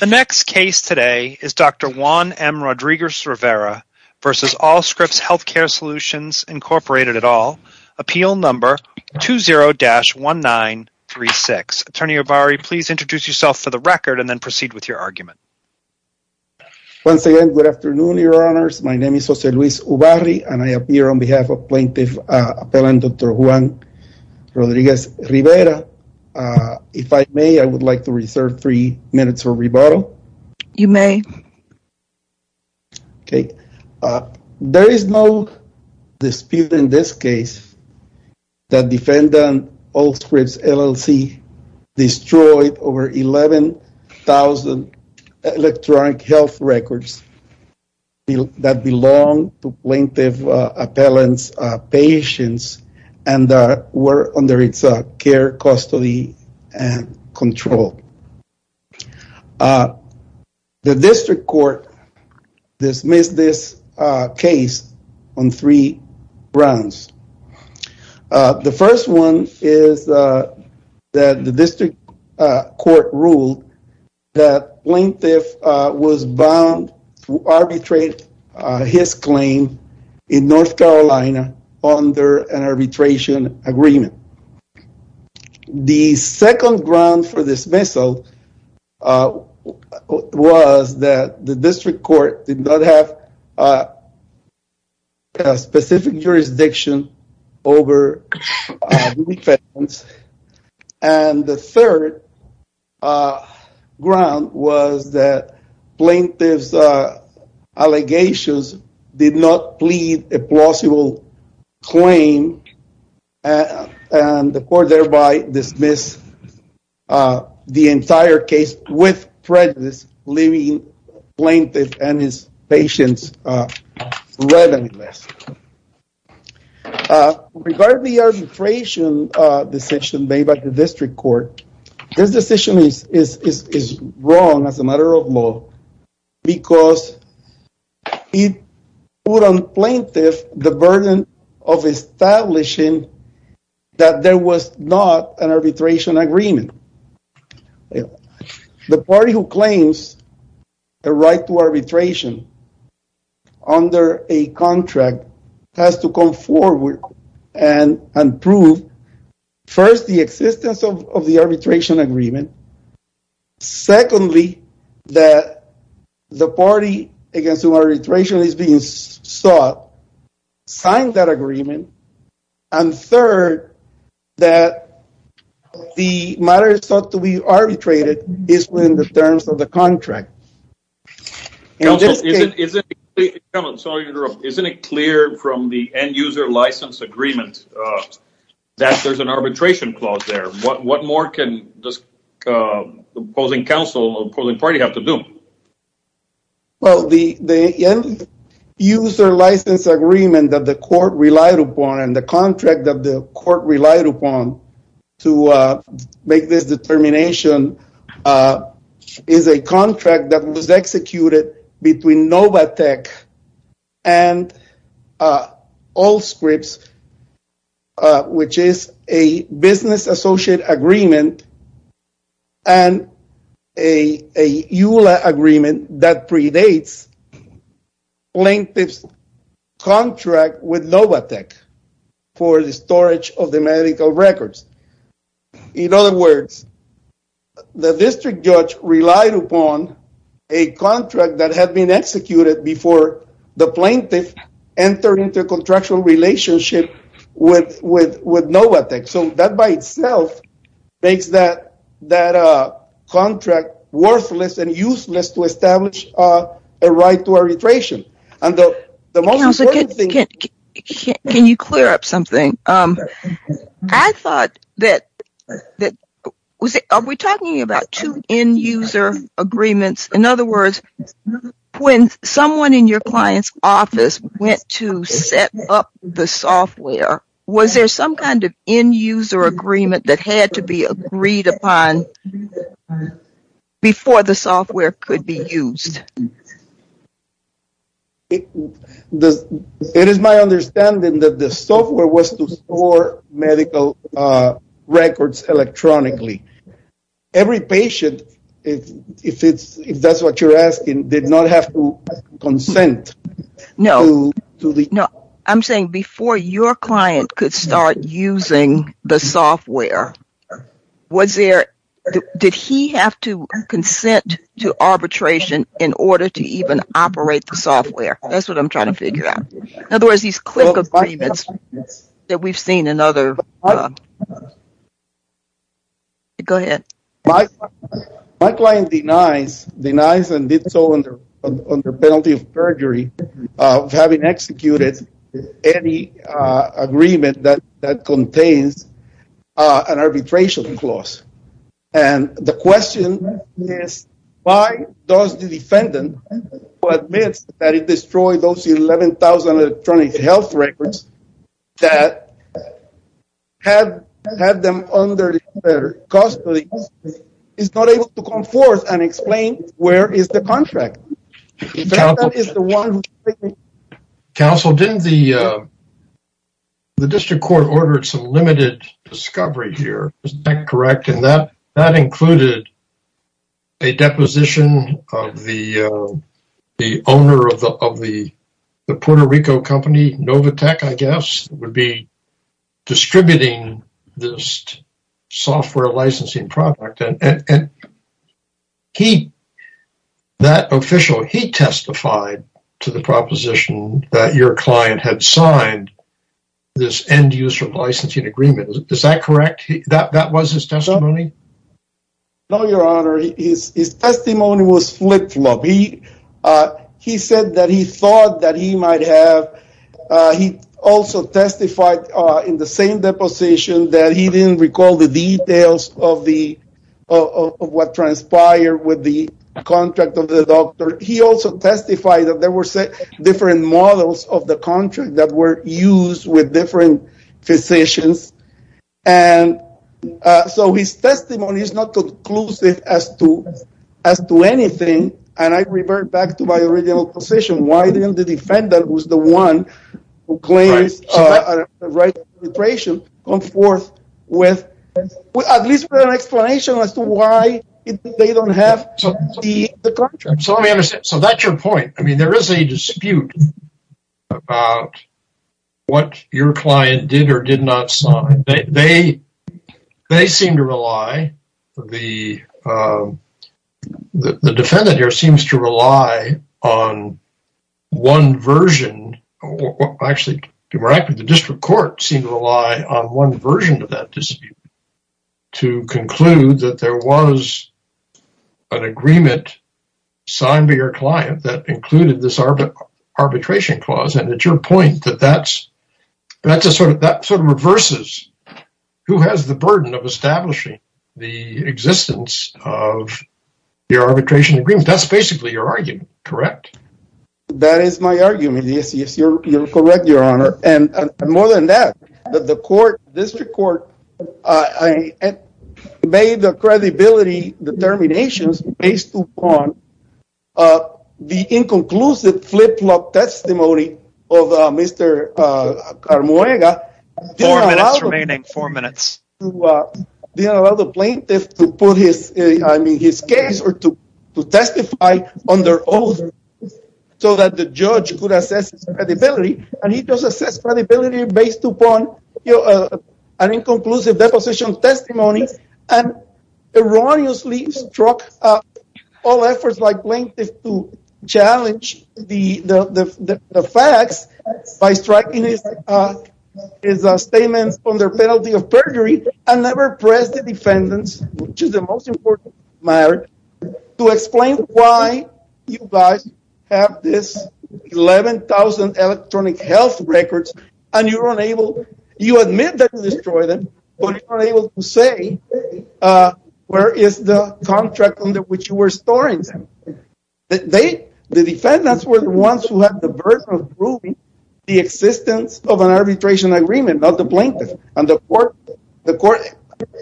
The next case today is Dr. Juan M. Rodriguez-Rivera v. Allscripts Health Care Solutions, Inc. at all, appeal number 20-1936. Attorney Ubarri, please introduce yourself for the record and then proceed with your argument. Once again, good afternoon, your honors. My name is Jose Luis Ubarri and I appear on behalf of rebuttal. You may. Okay, there is no dispute in this case that defendant Allscripts LLC destroyed over 11,000 electronic health records that belong to plaintiff appellant's patients and were under its care, custody, and control. The district court dismissed this case on three grounds. The first one is that the district court ruled that plaintiff was bound to arbitrate his claim in North Carolina under an arbitration agreement. The second ground for dismissal was that the district court did not have a specific jurisdiction over the defense. And the third ground was that plaintiff's allegations did not plead a plausible claim and the court thereby dismissed the entire case with prejudice leaving plaintiff and his patients redundant. Regarding the arbitration decision made by the district court, this decision is wrong as a matter of law because it put on plaintiff the burden of establishing that there was not an arbitration agreement. The party who claims a right to arbitration under a contract has to come forward and prove first the existence of the arbitration agreement. Secondly, that the party against whom arbitration is being sought signed that agreement. And third, that the matter is thought to be arbitrated is within the terms of the contract. Counsel, isn't it clear from the end-user license agreement that there's an arbitration clause there? What more can this opposing counsel or opposing party have to do? Well, the end-user license agreement that the court relied upon and the contract that the executed between Novatec and Allscripts, which is a business associate agreement and a EULA agreement that predates plaintiff's contract with Novatec for the storage of the a contract that had been executed before the plaintiff entered into a contractual relationship with Novatec. So that by itself makes that contract worthless and useless to establish a right to arbitration. Counsel, can you clear up something? I thought that, was it, are we talking about two end-user agreements? In other words, when someone in your client's office went to set up the software, was there some kind of end-user agreement that had to be agreed upon before the software could be used? It is my understanding that the software was to store medical records electronically. Every patient, if that's what you're asking, did not have to consent. No, I'm saying before your client could start using the software, did he have to consent to arbitration in order to even operate the software? That's what I'm trying to figure out. In other words, these CLIC agreements that we've seen in other... Go ahead. My client denies and did so under penalty of perjury of having executed any agreement that contains an arbitration clause. And the question is, why does the defendant who admits that he destroyed those 11,000 electronic health records, that had them under their custody, is not able to come forth and explain where is the contract? That is the one... Counsel, didn't the district court order some limited discovery here? Is that correct? And that included a deposition of the owner of the Puerto Rico company, Novatec, I guess, would be distributing this software licensing product. And that official, he testified to the proposition that your client had signed this end-user licensing agreement. Is that correct? That was his testimony? No, your honor. His testimony was flip-flop. He said that he thought that he might have... He also testified in the same deposition that he didn't recall the details of what transpired with the contract of the doctor. He also testified that there were different models of the contract that were used with different physicians. And so his testimony is not conclusive as to anything. And I revert back to my original position. Why didn't the defendant, who's the one who claims the right of penetration, come forth with at least an explanation as to why they don't have the contract? So let me understand. So that's your point. I mean, there is a dispute about what your client did or did not sign. They seem to rely, the defendant here seems to rely on one version. Actually, to be more accurate, the district court seemed to rely on one version of that dispute to conclude that there was an agreement signed by your client that included this arbitration clause. And it's your point that that sort of reverses who has the burden of establishing the existence of the arbitration agreement. That's basically your argument, correct? That is my argument. Yes, you're correct, Your Honor. And more than that, the district court made the credibility determinations based upon the inconclusive flip-flop testimony of Mr. Carmuega. Four minutes remaining. Four minutes. Didn't allow the plaintiff to put his case or to testify under oath so that the judge could assess his credibility. And he does assess credibility based upon an inconclusive deposition testimony and erroneously struck all efforts by plaintiffs to challenge the facts by striking his statements under penalty of perjury and never press the defendants, which is the most important matter, to explain why you guys have this 11,000 electronic health records and you're unable, you admit that you destroyed them, but you're unable to say where is the contract under which you were storing them. The defendants were the ones who had the burden of proving the existence of an arbitration agreement, not the plaintiff. And the court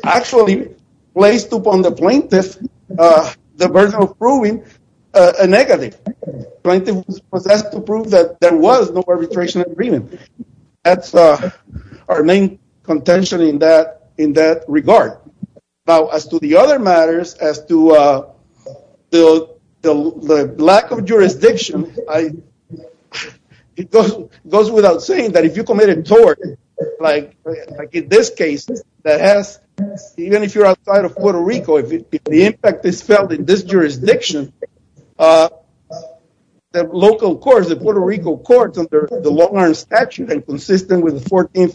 actually placed upon the plaintiff the burden of proving a negative. Plaintiff was asked to prove that there was no arbitration agreement. That's our main contention in that regard. Now, as to the other matters, as to the lack of jurisdiction, it goes without saying that if you committed tort, like in this case, that has, even if you're outside of Puerto Rico, if the impact is felt in this jurisdiction, the local courts, the Puerto Rico courts under the Longhorn statute and consistent with the 14th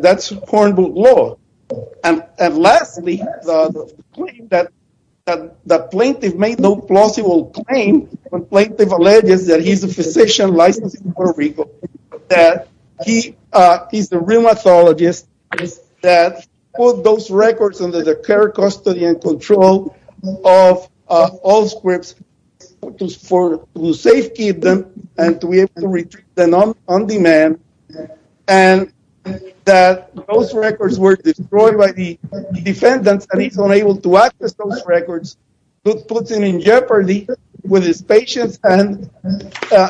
that's Hornbill law. And lastly, the claim that the plaintiff made no plausible claim when plaintiff alleges that he's a physician licensed in Puerto Rico, that he's the rheumatologist that put those records under the care, custody, and control of all squibs to safekeep them and to that those records were destroyed by the defendants. And he's unable to access those records, which puts him in jeopardy with his patients and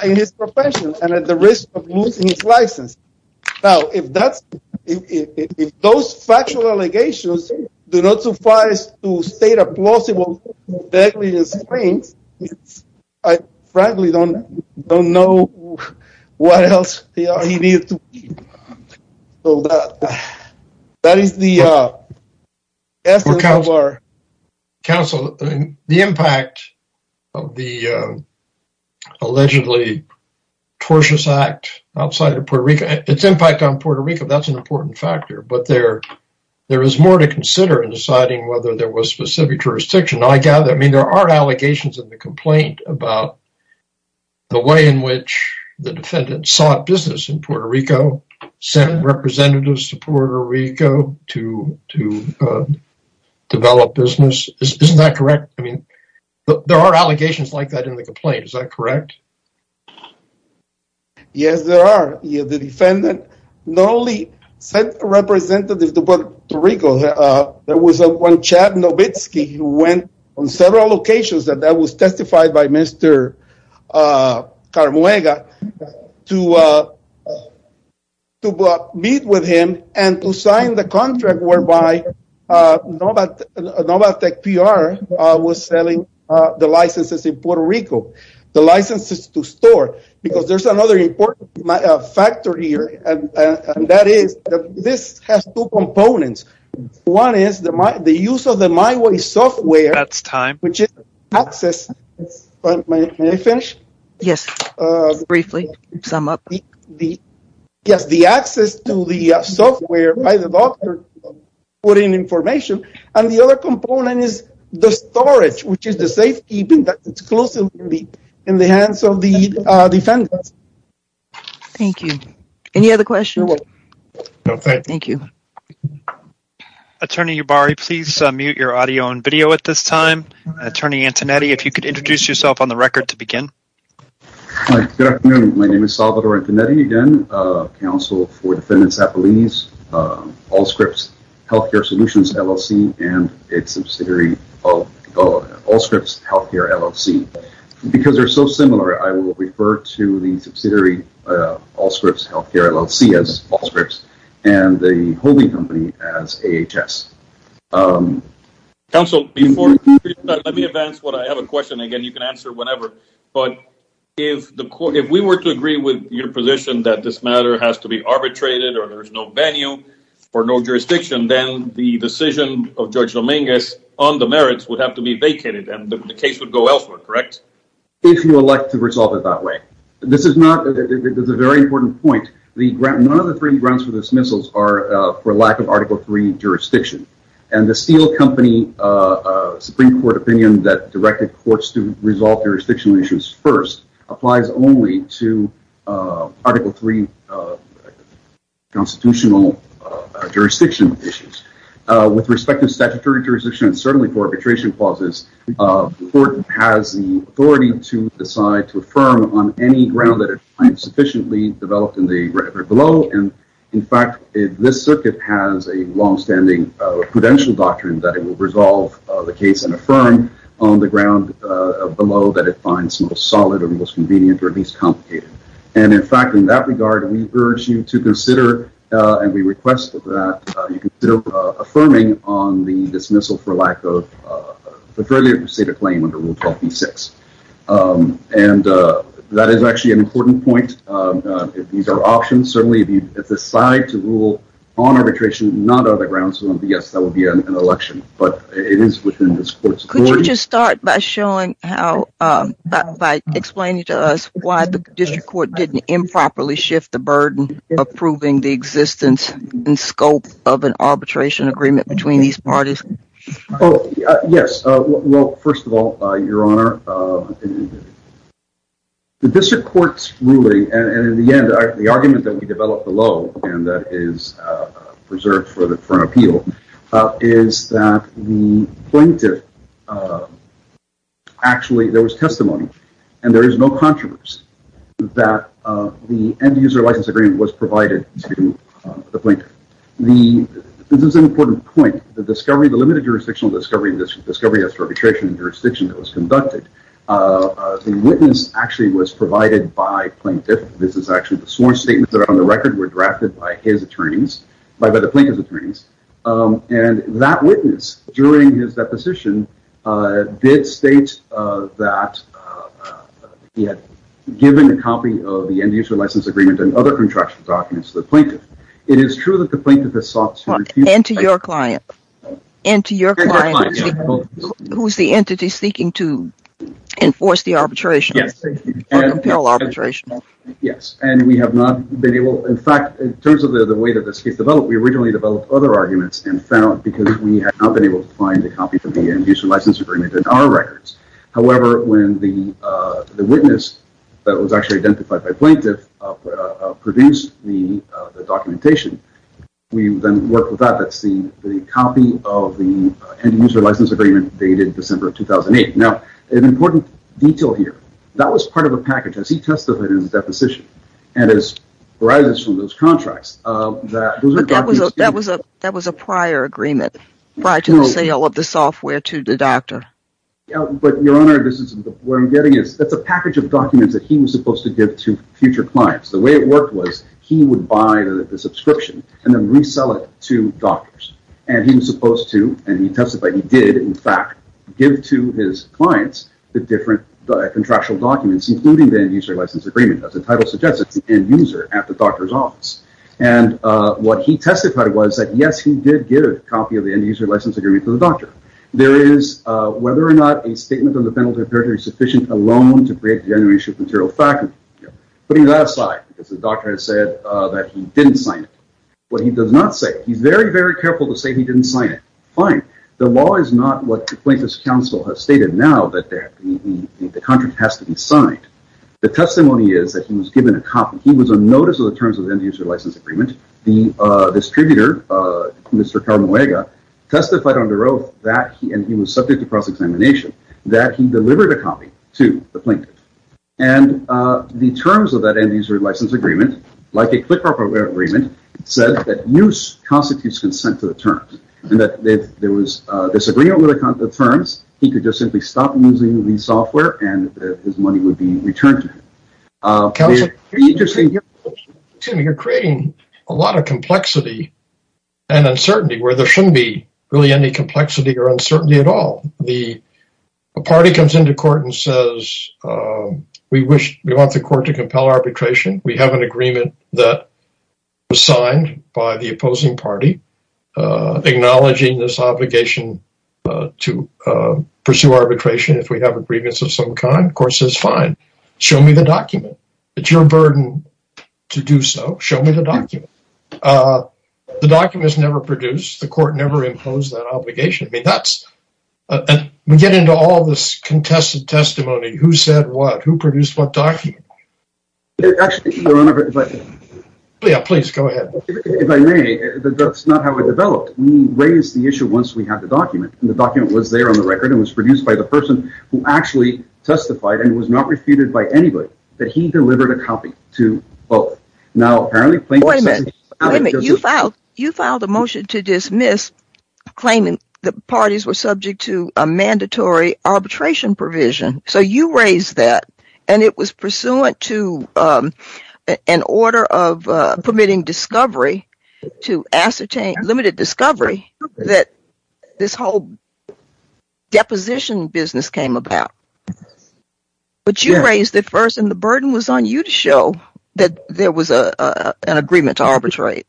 in his profession and at the risk of losing his license. Now, if that's, if those factual allegations do not suffice to state a claim, that is the essence of our counsel. The impact of the allegedly tortuous act outside of Puerto Rico, its impact on Puerto Rico, that's an important factor, but there is more to consider in deciding whether there was specific jurisdiction. I gather, I mean, there are allegations in the complaint about the way in which the defendant sought business in representatives to Puerto Rico to develop business. Isn't that correct? I mean, there are allegations like that in the complaint. Is that correct? Yes, there are. The defendant not only sent a representative to Puerto Rico, there was one Chad Novitski who went on several locations that that was testified by Mr. Carmuega to meet with him and to sign the contract whereby Novatec PR was selling the licenses in Puerto Rico, the licenses to store, because there's another important factor here, and that this has two components. One is the use of the MyWay software. That's time. Which is access. May I finish? Yes, briefly sum up. Yes, the access to the software by the doctor putting information, and the other component is the storage, which is the safekeeping that's exclusively in the hands of the defendants. Thank you. Any other questions? No, thank you. Attorney Yubari, please mute your audio and video at this time. Attorney Antonetti, if you could introduce yourself on the record to begin. Hi, good afternoon. My name is Salvador Antonetti, again, counsel for defendants at police, Allscripts Healthcare Solutions, LLC, and its subsidiary Allscripts Healthcare, LLC. Because they're so similar, I will refer to the subsidiary Allscripts Healthcare, LLC as Allscripts, and the holding company as AHS. Counsel, before you do that, let me advance what I have a question. Again, you can answer whenever, but if we were to agree with your position that this matter has to be arbitrated, or there's no venue, or no jurisdiction, then the decision of Judge Dominguez on the merits would have to be if you elect to resolve it that way. This is a very important point. None of the three grounds for dismissals are for lack of Article III jurisdiction, and the Steele Company Supreme Court opinion that directed courts to resolve jurisdictional issues first applies only to Article III constitutional jurisdiction issues. With respect to statutory jurisdiction, and certainly for arbitration clauses, the court has the authority to decide to affirm on any ground that it finds sufficiently developed in the record below. In fact, this circuit has a long-standing prudential doctrine that it will resolve the case and affirm on the ground below that it finds most solid, or most convenient, or at least complicated. In fact, in that regard, we urge you to consider, and we request that you consider affirming on the dismissal for lack of the earlier stated claim under Rule 12b-6. And that is actually an important point. These are options. Certainly, if you decide to rule on arbitration, not on the grounds that, yes, that would be an election, but it is within this court's authority. Could you just start by showing how, by explaining to us why the district court didn't arbitration agreement between these parties? Oh, yes. Well, first of all, Your Honor, the district court's ruling, and in the end, the argument that we developed below, and that is reserved for an appeal, is that the plaintiff, actually, there was testimony, and there is no controversy that the end-user license agreement was provided to the plaintiff. The, this is an important point, the discovery, the limited jurisdictional discovery, discovery as to arbitration and jurisdiction that was conducted, the witness actually was provided by plaintiff. This is actually the sworn statements that are on the record were drafted by his attorneys, by the plaintiff's attorneys, and that witness, during his deposition, did state that he had given a copy of the end-user license agreement and other contractual documents to the plaintiff. It is true that the plaintiff has sought to refuse. And to your client, and to your client, who is the entity seeking to enforce the arbitration, or compel arbitration. Yes, and we have not been able, in fact, in terms of the way that this case developed, we originally developed other arguments and found, because we had not been able to find a copy of the end-user license agreement in our records. However, when the witness that was actually identified by the documentation, we then worked with that, that's the copy of the end-user license agreement dated December of 2008. Now, an important detail here, that was part of a package, as he testified in his deposition, and as arises from those contracts. That was a prior agreement, prior to the sale of the software to the doctor. But your honor, this is, what I'm getting is, that's a package of documents that he was supposed to give to future clients. The way it worked was, he would buy the subscription and then resell it to doctors. And he was supposed to, and he testified he did, in fact, give to his clients the different contractual documents, including the end-user license agreement. As the title suggests, it's the end-user at the doctor's office. And what he testified was that yes, he did get a copy of the end-user license agreement for the doctor. There is, whether or not, a statement on the penalty of perjury sufficient alone to break the generation of material fact, putting that aside, because the doctor has said that he didn't sign it. What he does not say, he's very, very careful to say he didn't sign it. Fine. The law is not what the plaintiff's counsel has stated now, that the contract has to be signed. The testimony is that he was given a copy. He was on notice of the terms of the end-user license agreement. The distributor, Mr. Carnawega, testified under oath that he, and he was subject to cross-examination, that he delivered a copy to the plaintiff. And the terms of that end-user license agreement, like a CLQR agreement, said that use constitutes consent to the terms, and that if there was disagreement with the terms, he could just simply stop using the software and his money would be an uncertainty, where there shouldn't be really any complexity or uncertainty at all. The party comes into court and says, we want the court to compel arbitration. We have an agreement that was signed by the opposing party, acknowledging this obligation to pursue arbitration, if we have agreements of some kind. The court says, fine, show me the document. It's your burden to do so. Show me the document. The document is never produced. The court never imposed that obligation. We get into all this contested testimony. Who said what? Who produced what document? If I may, that's not how it developed. We raised the issue once we had the document. The document was there on the record and was produced by the person who actually testified and was not refuted by anybody, that he delivered a copy to both. Now, apparently, you filed a motion to dismiss claiming that parties were subject to a mandatory arbitration provision, so you raised that, and it was pursuant to an order of permitting discovery, to ascertain limited discovery, that this whole deposition business came about. But you raised it first, and the burden was on you to show that there was an agreement to arbitrate.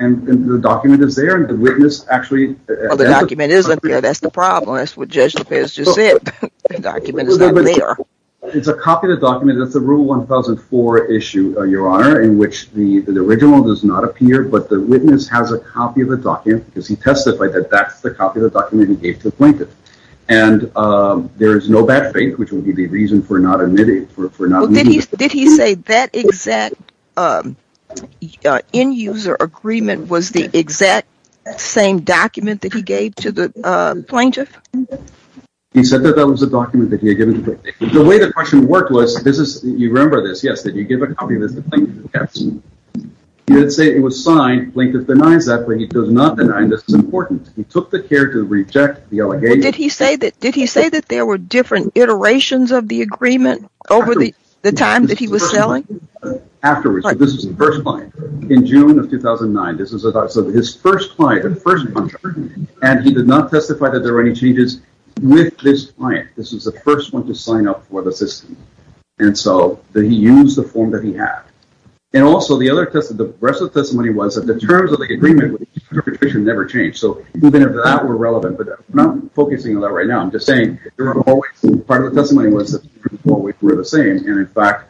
And the document is there, and the witness actually... Well, the document isn't there. That's the problem. That's what Judge DePez just said. The document is not there. It's a copy of the document. That's a Rule 1004 issue, Your Honor, in which the original does not appear, but the witness has a copy of the document because he testified that that's the copy of the document he gave to the plaintiff. And there is no bad faith, which would be the reason for not admitting. Did he say that exact end-user agreement was the exact same document that he gave to the plaintiff? He said that that was a document that he had given to the plaintiff. The way the question worked was, you remember this, yes, that you give a copy of this to the plaintiff. You didn't say it was signed. The plaintiff denies that, but he does not deny this is important. He took the care to reject the allegation. Did he say that there were different iterations of the agreement over the time that he was selling? Afterwards. This was the first client. In June of 2009, this was his first client, his first contract, and he did not testify that there were any changes with this client. This was the first one to sign up for the system. And so he used the form that he had. And also, the rest of the testimony was that the terms of the agreement never changed. So even if that were relevant, but not focusing on that right now, I'm just saying, part of the testimony was that we're the same. And in fact,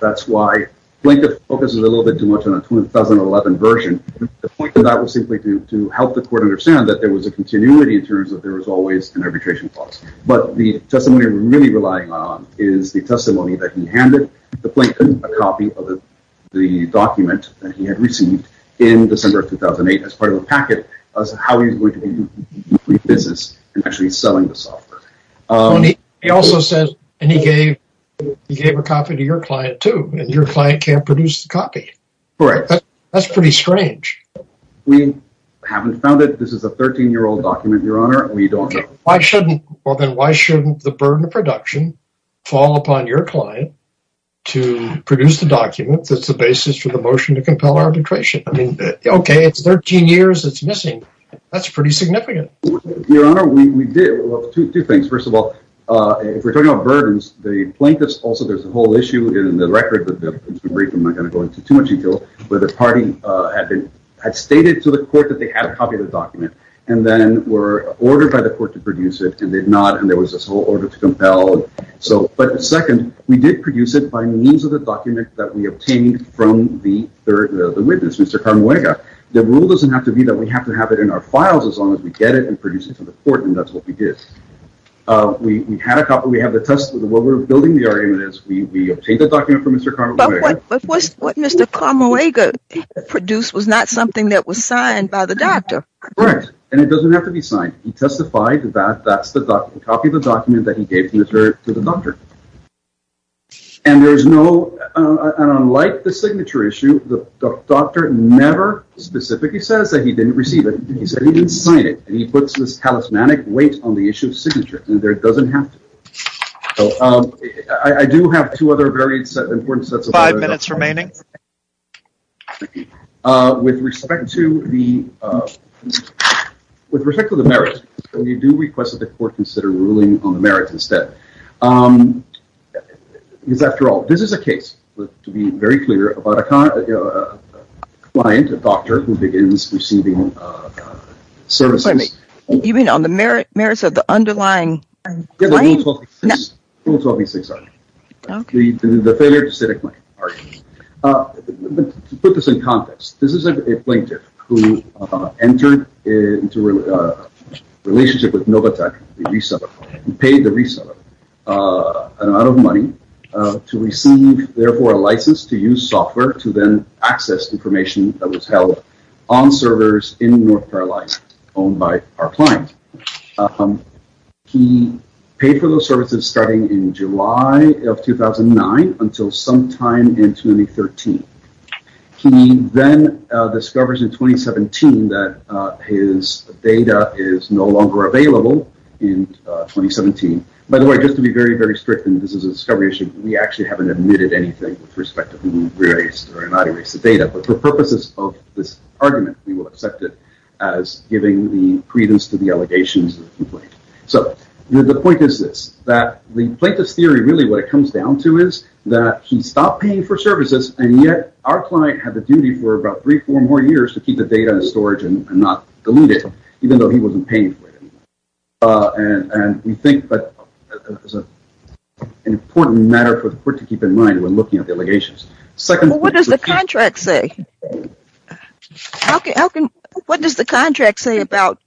that's why plaintiff focuses a little bit too much on a 2011 version. The point of that was simply to help the court understand that there was a continuity in terms of there was always an arbitration clause. But the testimony we're really relying on is the testimony that he handed the plaintiff a copy of the document that he had in December of 2008 as part of a packet of how he's going to do business and actually selling the software. He also says, and he gave a copy to your client too, and your client can't produce the copy. Correct. That's pretty strange. We haven't found it. This is a 13-year-old document, Your Honor. We don't know. Why shouldn't the burden of production fall upon your client to produce the document that's the basis for the motion to compel arbitration? I mean, okay, it's 13 years. It's missing. That's pretty significant. Your Honor, we did two things. First of all, if we're talking about burdens, the plaintiffs also, there's a whole issue in the record, but I'm not going to go into too much detail, but the party had stated to the court that they had a copy of the document and then were ordered by the court to produce it and did not. There was this whole order to compel. But second, we did produce it by means of the document that we obtained from the witness, Mr. Carmuega. The rule doesn't have to be that we have to have it in our files as long as we get it and produce it to the court, and that's what we did. We had a copy. We have the test. What we're building the argument is we obtained the document from Mr. Carmuega. But what Mr. Carmuega produced was not something that was signed by the doctor. Correct, and it doesn't have to be signed. He testified that that's the document, copy of the document that he gave to the doctor. And there's no, and unlike the signature issue, the doctor never specifically says that he didn't receive it. He said he didn't sign it, and he puts this talismanic weight on the issue of signature, and there it doesn't have to. I do have two other very important sets of- Five minutes remaining. With respect to the merits, we do request that the court consider ruling on the merits instead. Because after all, this is a case, to be very clear, about a client, a doctor, who begins receiving services- You mean on the merits of the underlying- The rule 1286 argument, the failure to set a claim argument. To put this in context, this is a plaintiff who entered into a relationship with Novatec, the reseller, who paid the reseller an amount of money to receive, therefore, a license to use software to then access information that was held on servers in North Carolina owned by our client. He paid for those services starting in July of 2009 until sometime in 2013. He then discovers in 2017 that his data is no longer available in 2017. By the way, just to be very, very strict, and this is a discovery issue, we actually haven't admitted anything with respect to who erased or not erased the data. But for purposes of this argument, we will accept it as giving the credence to the allegations of the complaint. The point is this, that the plaintiff's theory, really what it comes down to is that he stopped paying for services, and yet our client had the duty for about three, four more years to keep the data in storage and not delete it, even though he wasn't paying for it anymore. We think that is an important matter for the court to keep in mind when looking at the allegations. Second- What does the contract say? Okay, Elkin, what does the contract say about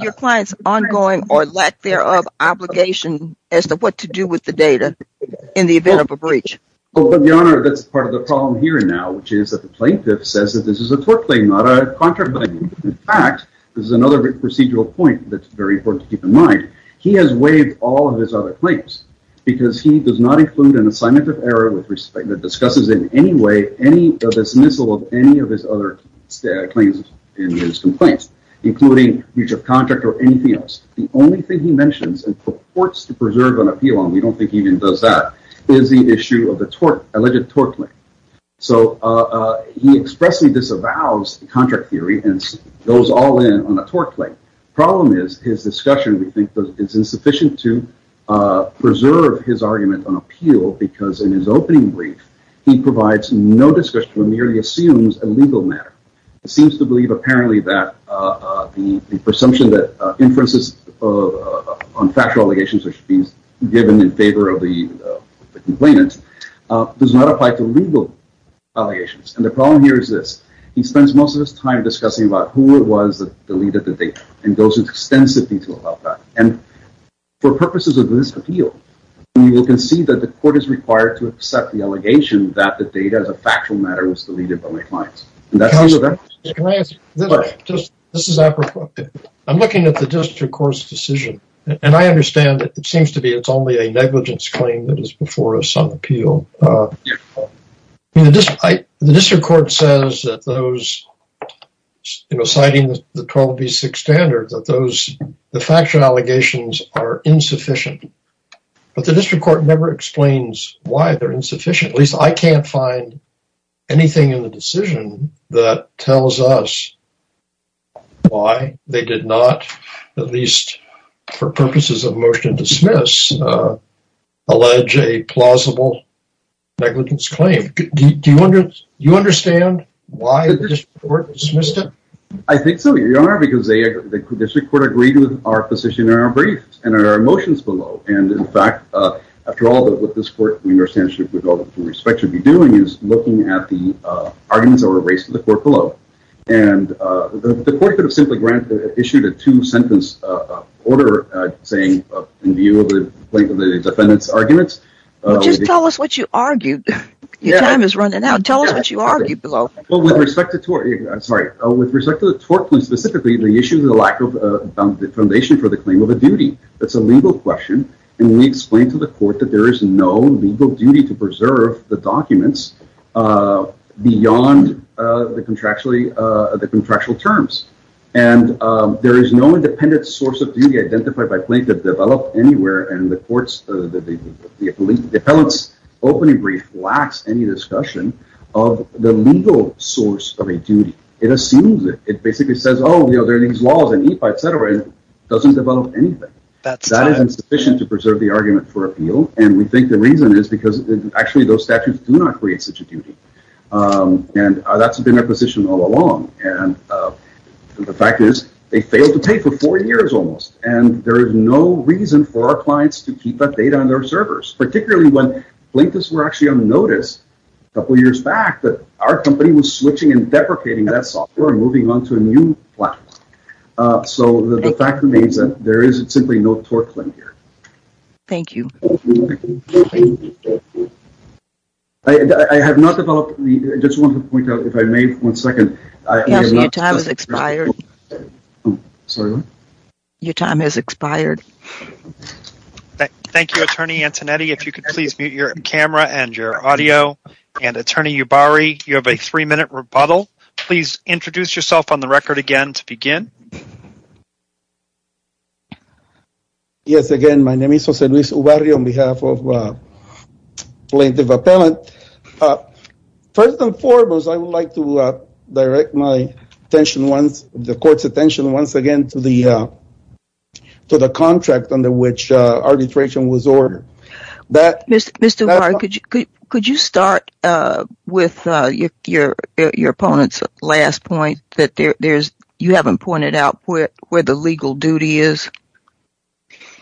your client's ongoing or lack thereof obligation as to what to do with the data in the event of a breach? Well, Your Honor, that's part of the problem here now, which is that the plaintiff says that this is a tort claim, not a contract claim. In fact, this is another procedural point that's very important to keep in mind. He has waived all of his other claims because he does not include an assignment of error that discusses in any way the dismissal of any of his other claims and his complaints, including breach of contract or anything else. The only thing he mentions and purports to preserve on appeal, and we don't think he even does that, is the issue of the alleged tort claim. He expressly disavows the contract theory and goes all in on a tort claim. The problem is his discussion, we think, is insufficient to preserve his argument on appeal because in his opening brief, he provides no discussion or merely assumes a legal matter. He seems to believe apparently that the presumption that inferences on factual allegations should be given in favor of the complainant does not apply to legal allegations. And the problem here is this. He spends most of his time discussing about who it was that deleted the data and goes into extensive detail about that. And for purposes of this appeal, we will concede that the court is required to accept the allegation that the data as a factual matter was deleted by my clients. And that's the event. Counselor, can I ask a question? This is Apropos. I'm looking at the district court's decision, and I understand it seems to be it's only a negligence claim that is before us on appeal. The district court says that those, citing the 12B6 standard, that the factual allegations are insufficient. But the district court never explains why they're insufficient. At least, I can't find anything in the decision that tells us why they did not, at least for purposes of negligence claim. Do you understand why the district court dismissed it? I think so, Your Honor, because the district court agreed with our position in our briefs and our motions below. And in fact, after all that, what this court, we understand, with all due respect, should be doing is looking at the arguments that were raised to the court below. And the court could have simply granted, issued a two-sentence order, saying, in view of the plaintiff, the defendant's arguments. Just tell us what you argued. Your time is running out. Tell us what you argued below. Well, with respect to tort, I'm sorry. With respect to the tort plea, specifically, the issue of the lack of foundation for the claim of a duty. That's a legal question. And we explained to the court that there is no legal duty to preserve the documents beyond the contractual terms. And there is no independent source of duty identified by plaintiff developed anywhere. And the court's, the appellant's opening brief lacks any discussion of the legal source of a duty. It assumes it. It basically says, oh, you know, there are these laws and EIPA, et cetera, and it doesn't develop anything. That is insufficient to preserve the argument for appeal. And we think the reason is because actually those statutes do not create such a duty. And that's been our position all along. And the fact is they failed to pay for four years almost. And there is no reason for our clients to keep that data on their servers, particularly when plaintiffs were actually on notice a couple years back that our company was switching and deprecating that software and moving on to a new platform. So the fact remains that there is simply no tort claim here. Thank you. Thank you. I have not developed, I just want to point out if I may, one second. Your time has expired. Sorry, what? Your time has expired. Thank you, Attorney Antonetti. If you could please mute your camera and your audio. And Attorney Ubari, you have a three minute rebuttal. Please introduce yourself on the record again to begin. Yes, again, my name is Jose Luis Ubari on behalf of Plaintiff Appellant. First and foremost, I would like to direct my attention once, the court's attention once again to the contract under which arbitration was ordered. Mr. Ubari, could you start with your opponent's last point that there's, you haven't pointed out where the legal duty is?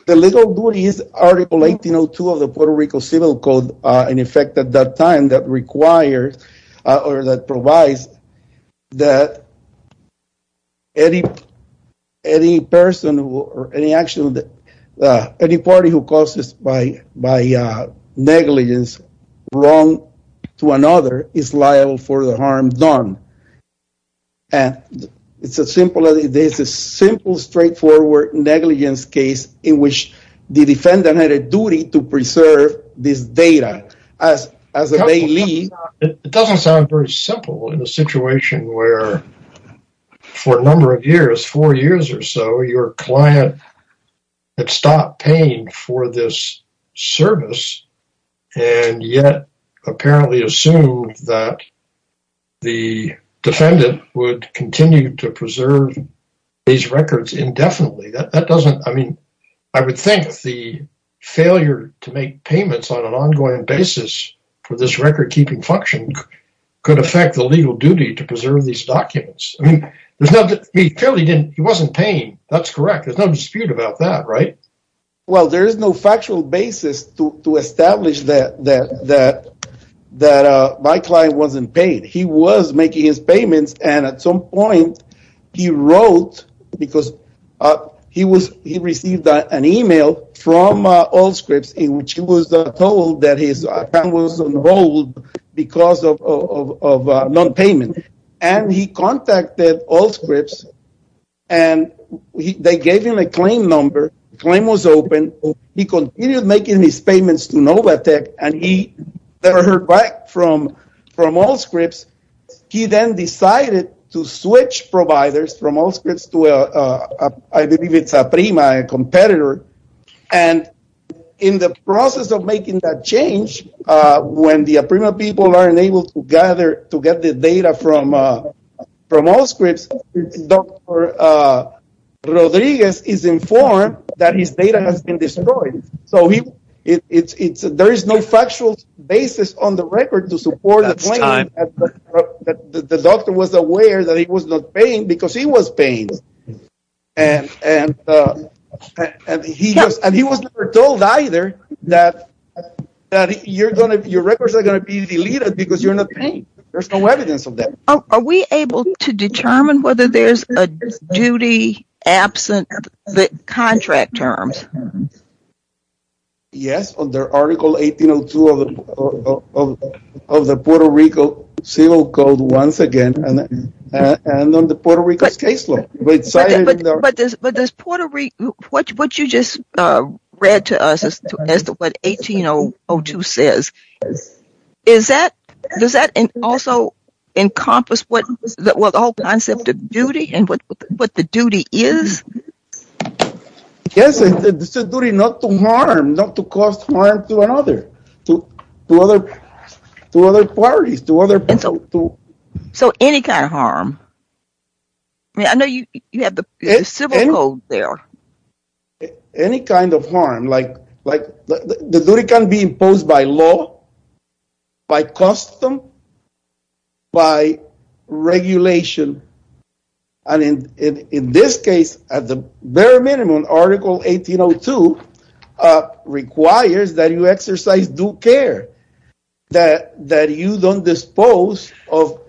The legal duty is Article 1802 of the Puerto Rico Civil Code. In effect, at that time, that requires or that provides that any person or any party who causes by negligence wrong to another is liable for the harm done. And it's a simple, straightforward negligence case in which the defendant had a duty to preserve this data as they leave. It doesn't sound very simple in a situation where for a number of years, four years or so, your client had stopped paying for this service and yet apparently assumed that the defendant would continue to preserve these records indefinitely. That doesn't, I mean, I would think the failure to make payments on an ongoing basis for this record keeping function could affect the legal duty to preserve these documents. I mean, there's nothing, he clearly didn't, he wasn't paying. That's correct. There's no dispute about that, right? Well, there is no factual basis to establish that my client wasn't paid. He was making his payments and at some point he wrote because he received an email from Allscripts in which he was told that his account was on hold because of a non-payment. And he contacted Allscripts and they gave him a claim number. The claim was open. He continued making his payments to Novatec and he never heard back from Allscripts. He then decided to switch providers from Allscripts to, I believe it's Aprima, a competitor. And in the process of making that change, when the Aprima people aren't able to gather, to get the data from Allscripts, Dr. Rodriguez is informed that his data has been destroyed. So there is no factual basis on the record to support the claim that the doctor was aware that he was not paying because he was paying. And he was never told either that your records are going to be deleted because you're not paying. There's no evidence of that. Are we able to determine whether there's a duty absent the contract terms? Yes, under Article 1802 of the Puerto Rico Civil Code once again and under Puerto Rico's case law. But does Puerto Rico, what you just read to us as to what 1802 says, does that also encompass the whole concept of duty and what the duty is? Yes, it's a duty not to harm, not to cause harm to another, to other parties. And so any kind of harm? I know you have the Civil Code there. Any kind of harm, like the duty can be imposed by law, by custom, by regulation. And in this case, at the bare minimum, Article 1802 requires that you exercise due care, that you don't dispose of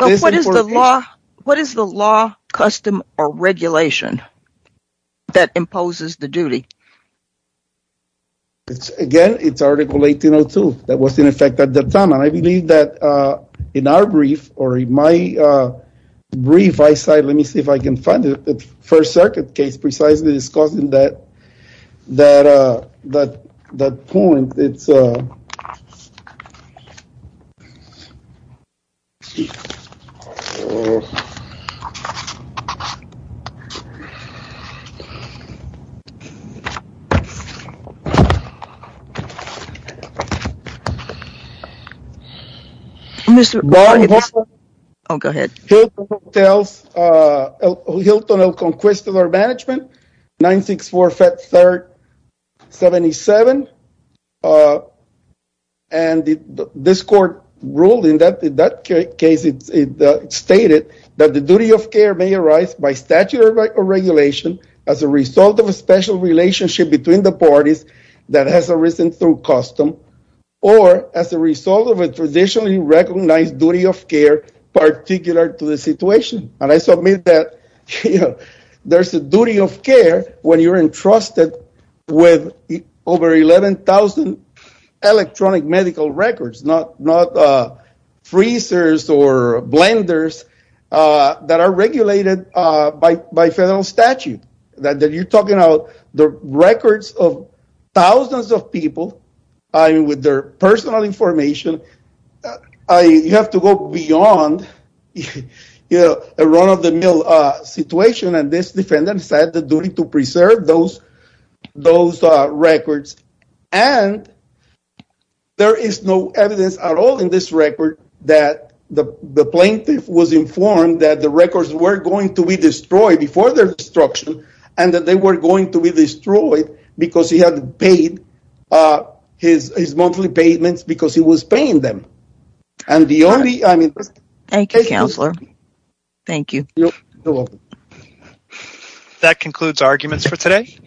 this information. What is the law, custom, or regulation that imposes the duty? Again, it's Article 1802 that was in effect at the time. And I believe that in our brief or in my brief, let me see if I can find it, the First Circuit case precisely discussing that, that point. It's Hilton Hotels, Hilton El Conquistador Management, 964 Feb 3rd 77. And this court ruled in that case, it stated that the duty of care may arise by statute or regulation as a result of a special relationship between the parties that has arisen through custom, or as a result of a traditionally recognized duty of care particular to the situation. And I submit that there's a duty of care when you're entrusted with over 11,000 electronic medical records, not freezers or blenders that are regulated by federal statute, that you're talking about the records of thousands of people with their personal information. You have to go beyond a run-of-the-mill situation. And this defendant said the duty to preserve those records. And there is no evidence at all in this record that the plaintiff was informed that the records were going to be destroyed before their destruction, and that they were going to be destroyed because he had paid his monthly payments because he was paying them. And the only, I mean... Thank you, Counselor. Thank you. You're welcome. That concludes arguments for today.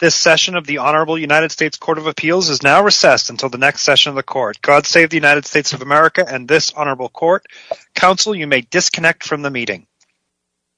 This session of the Honorable United States Court of Appeals is now recessed until the next session of the Court. God save the United States of America and this Honorable Court. Counsel, you may disconnect from the meeting.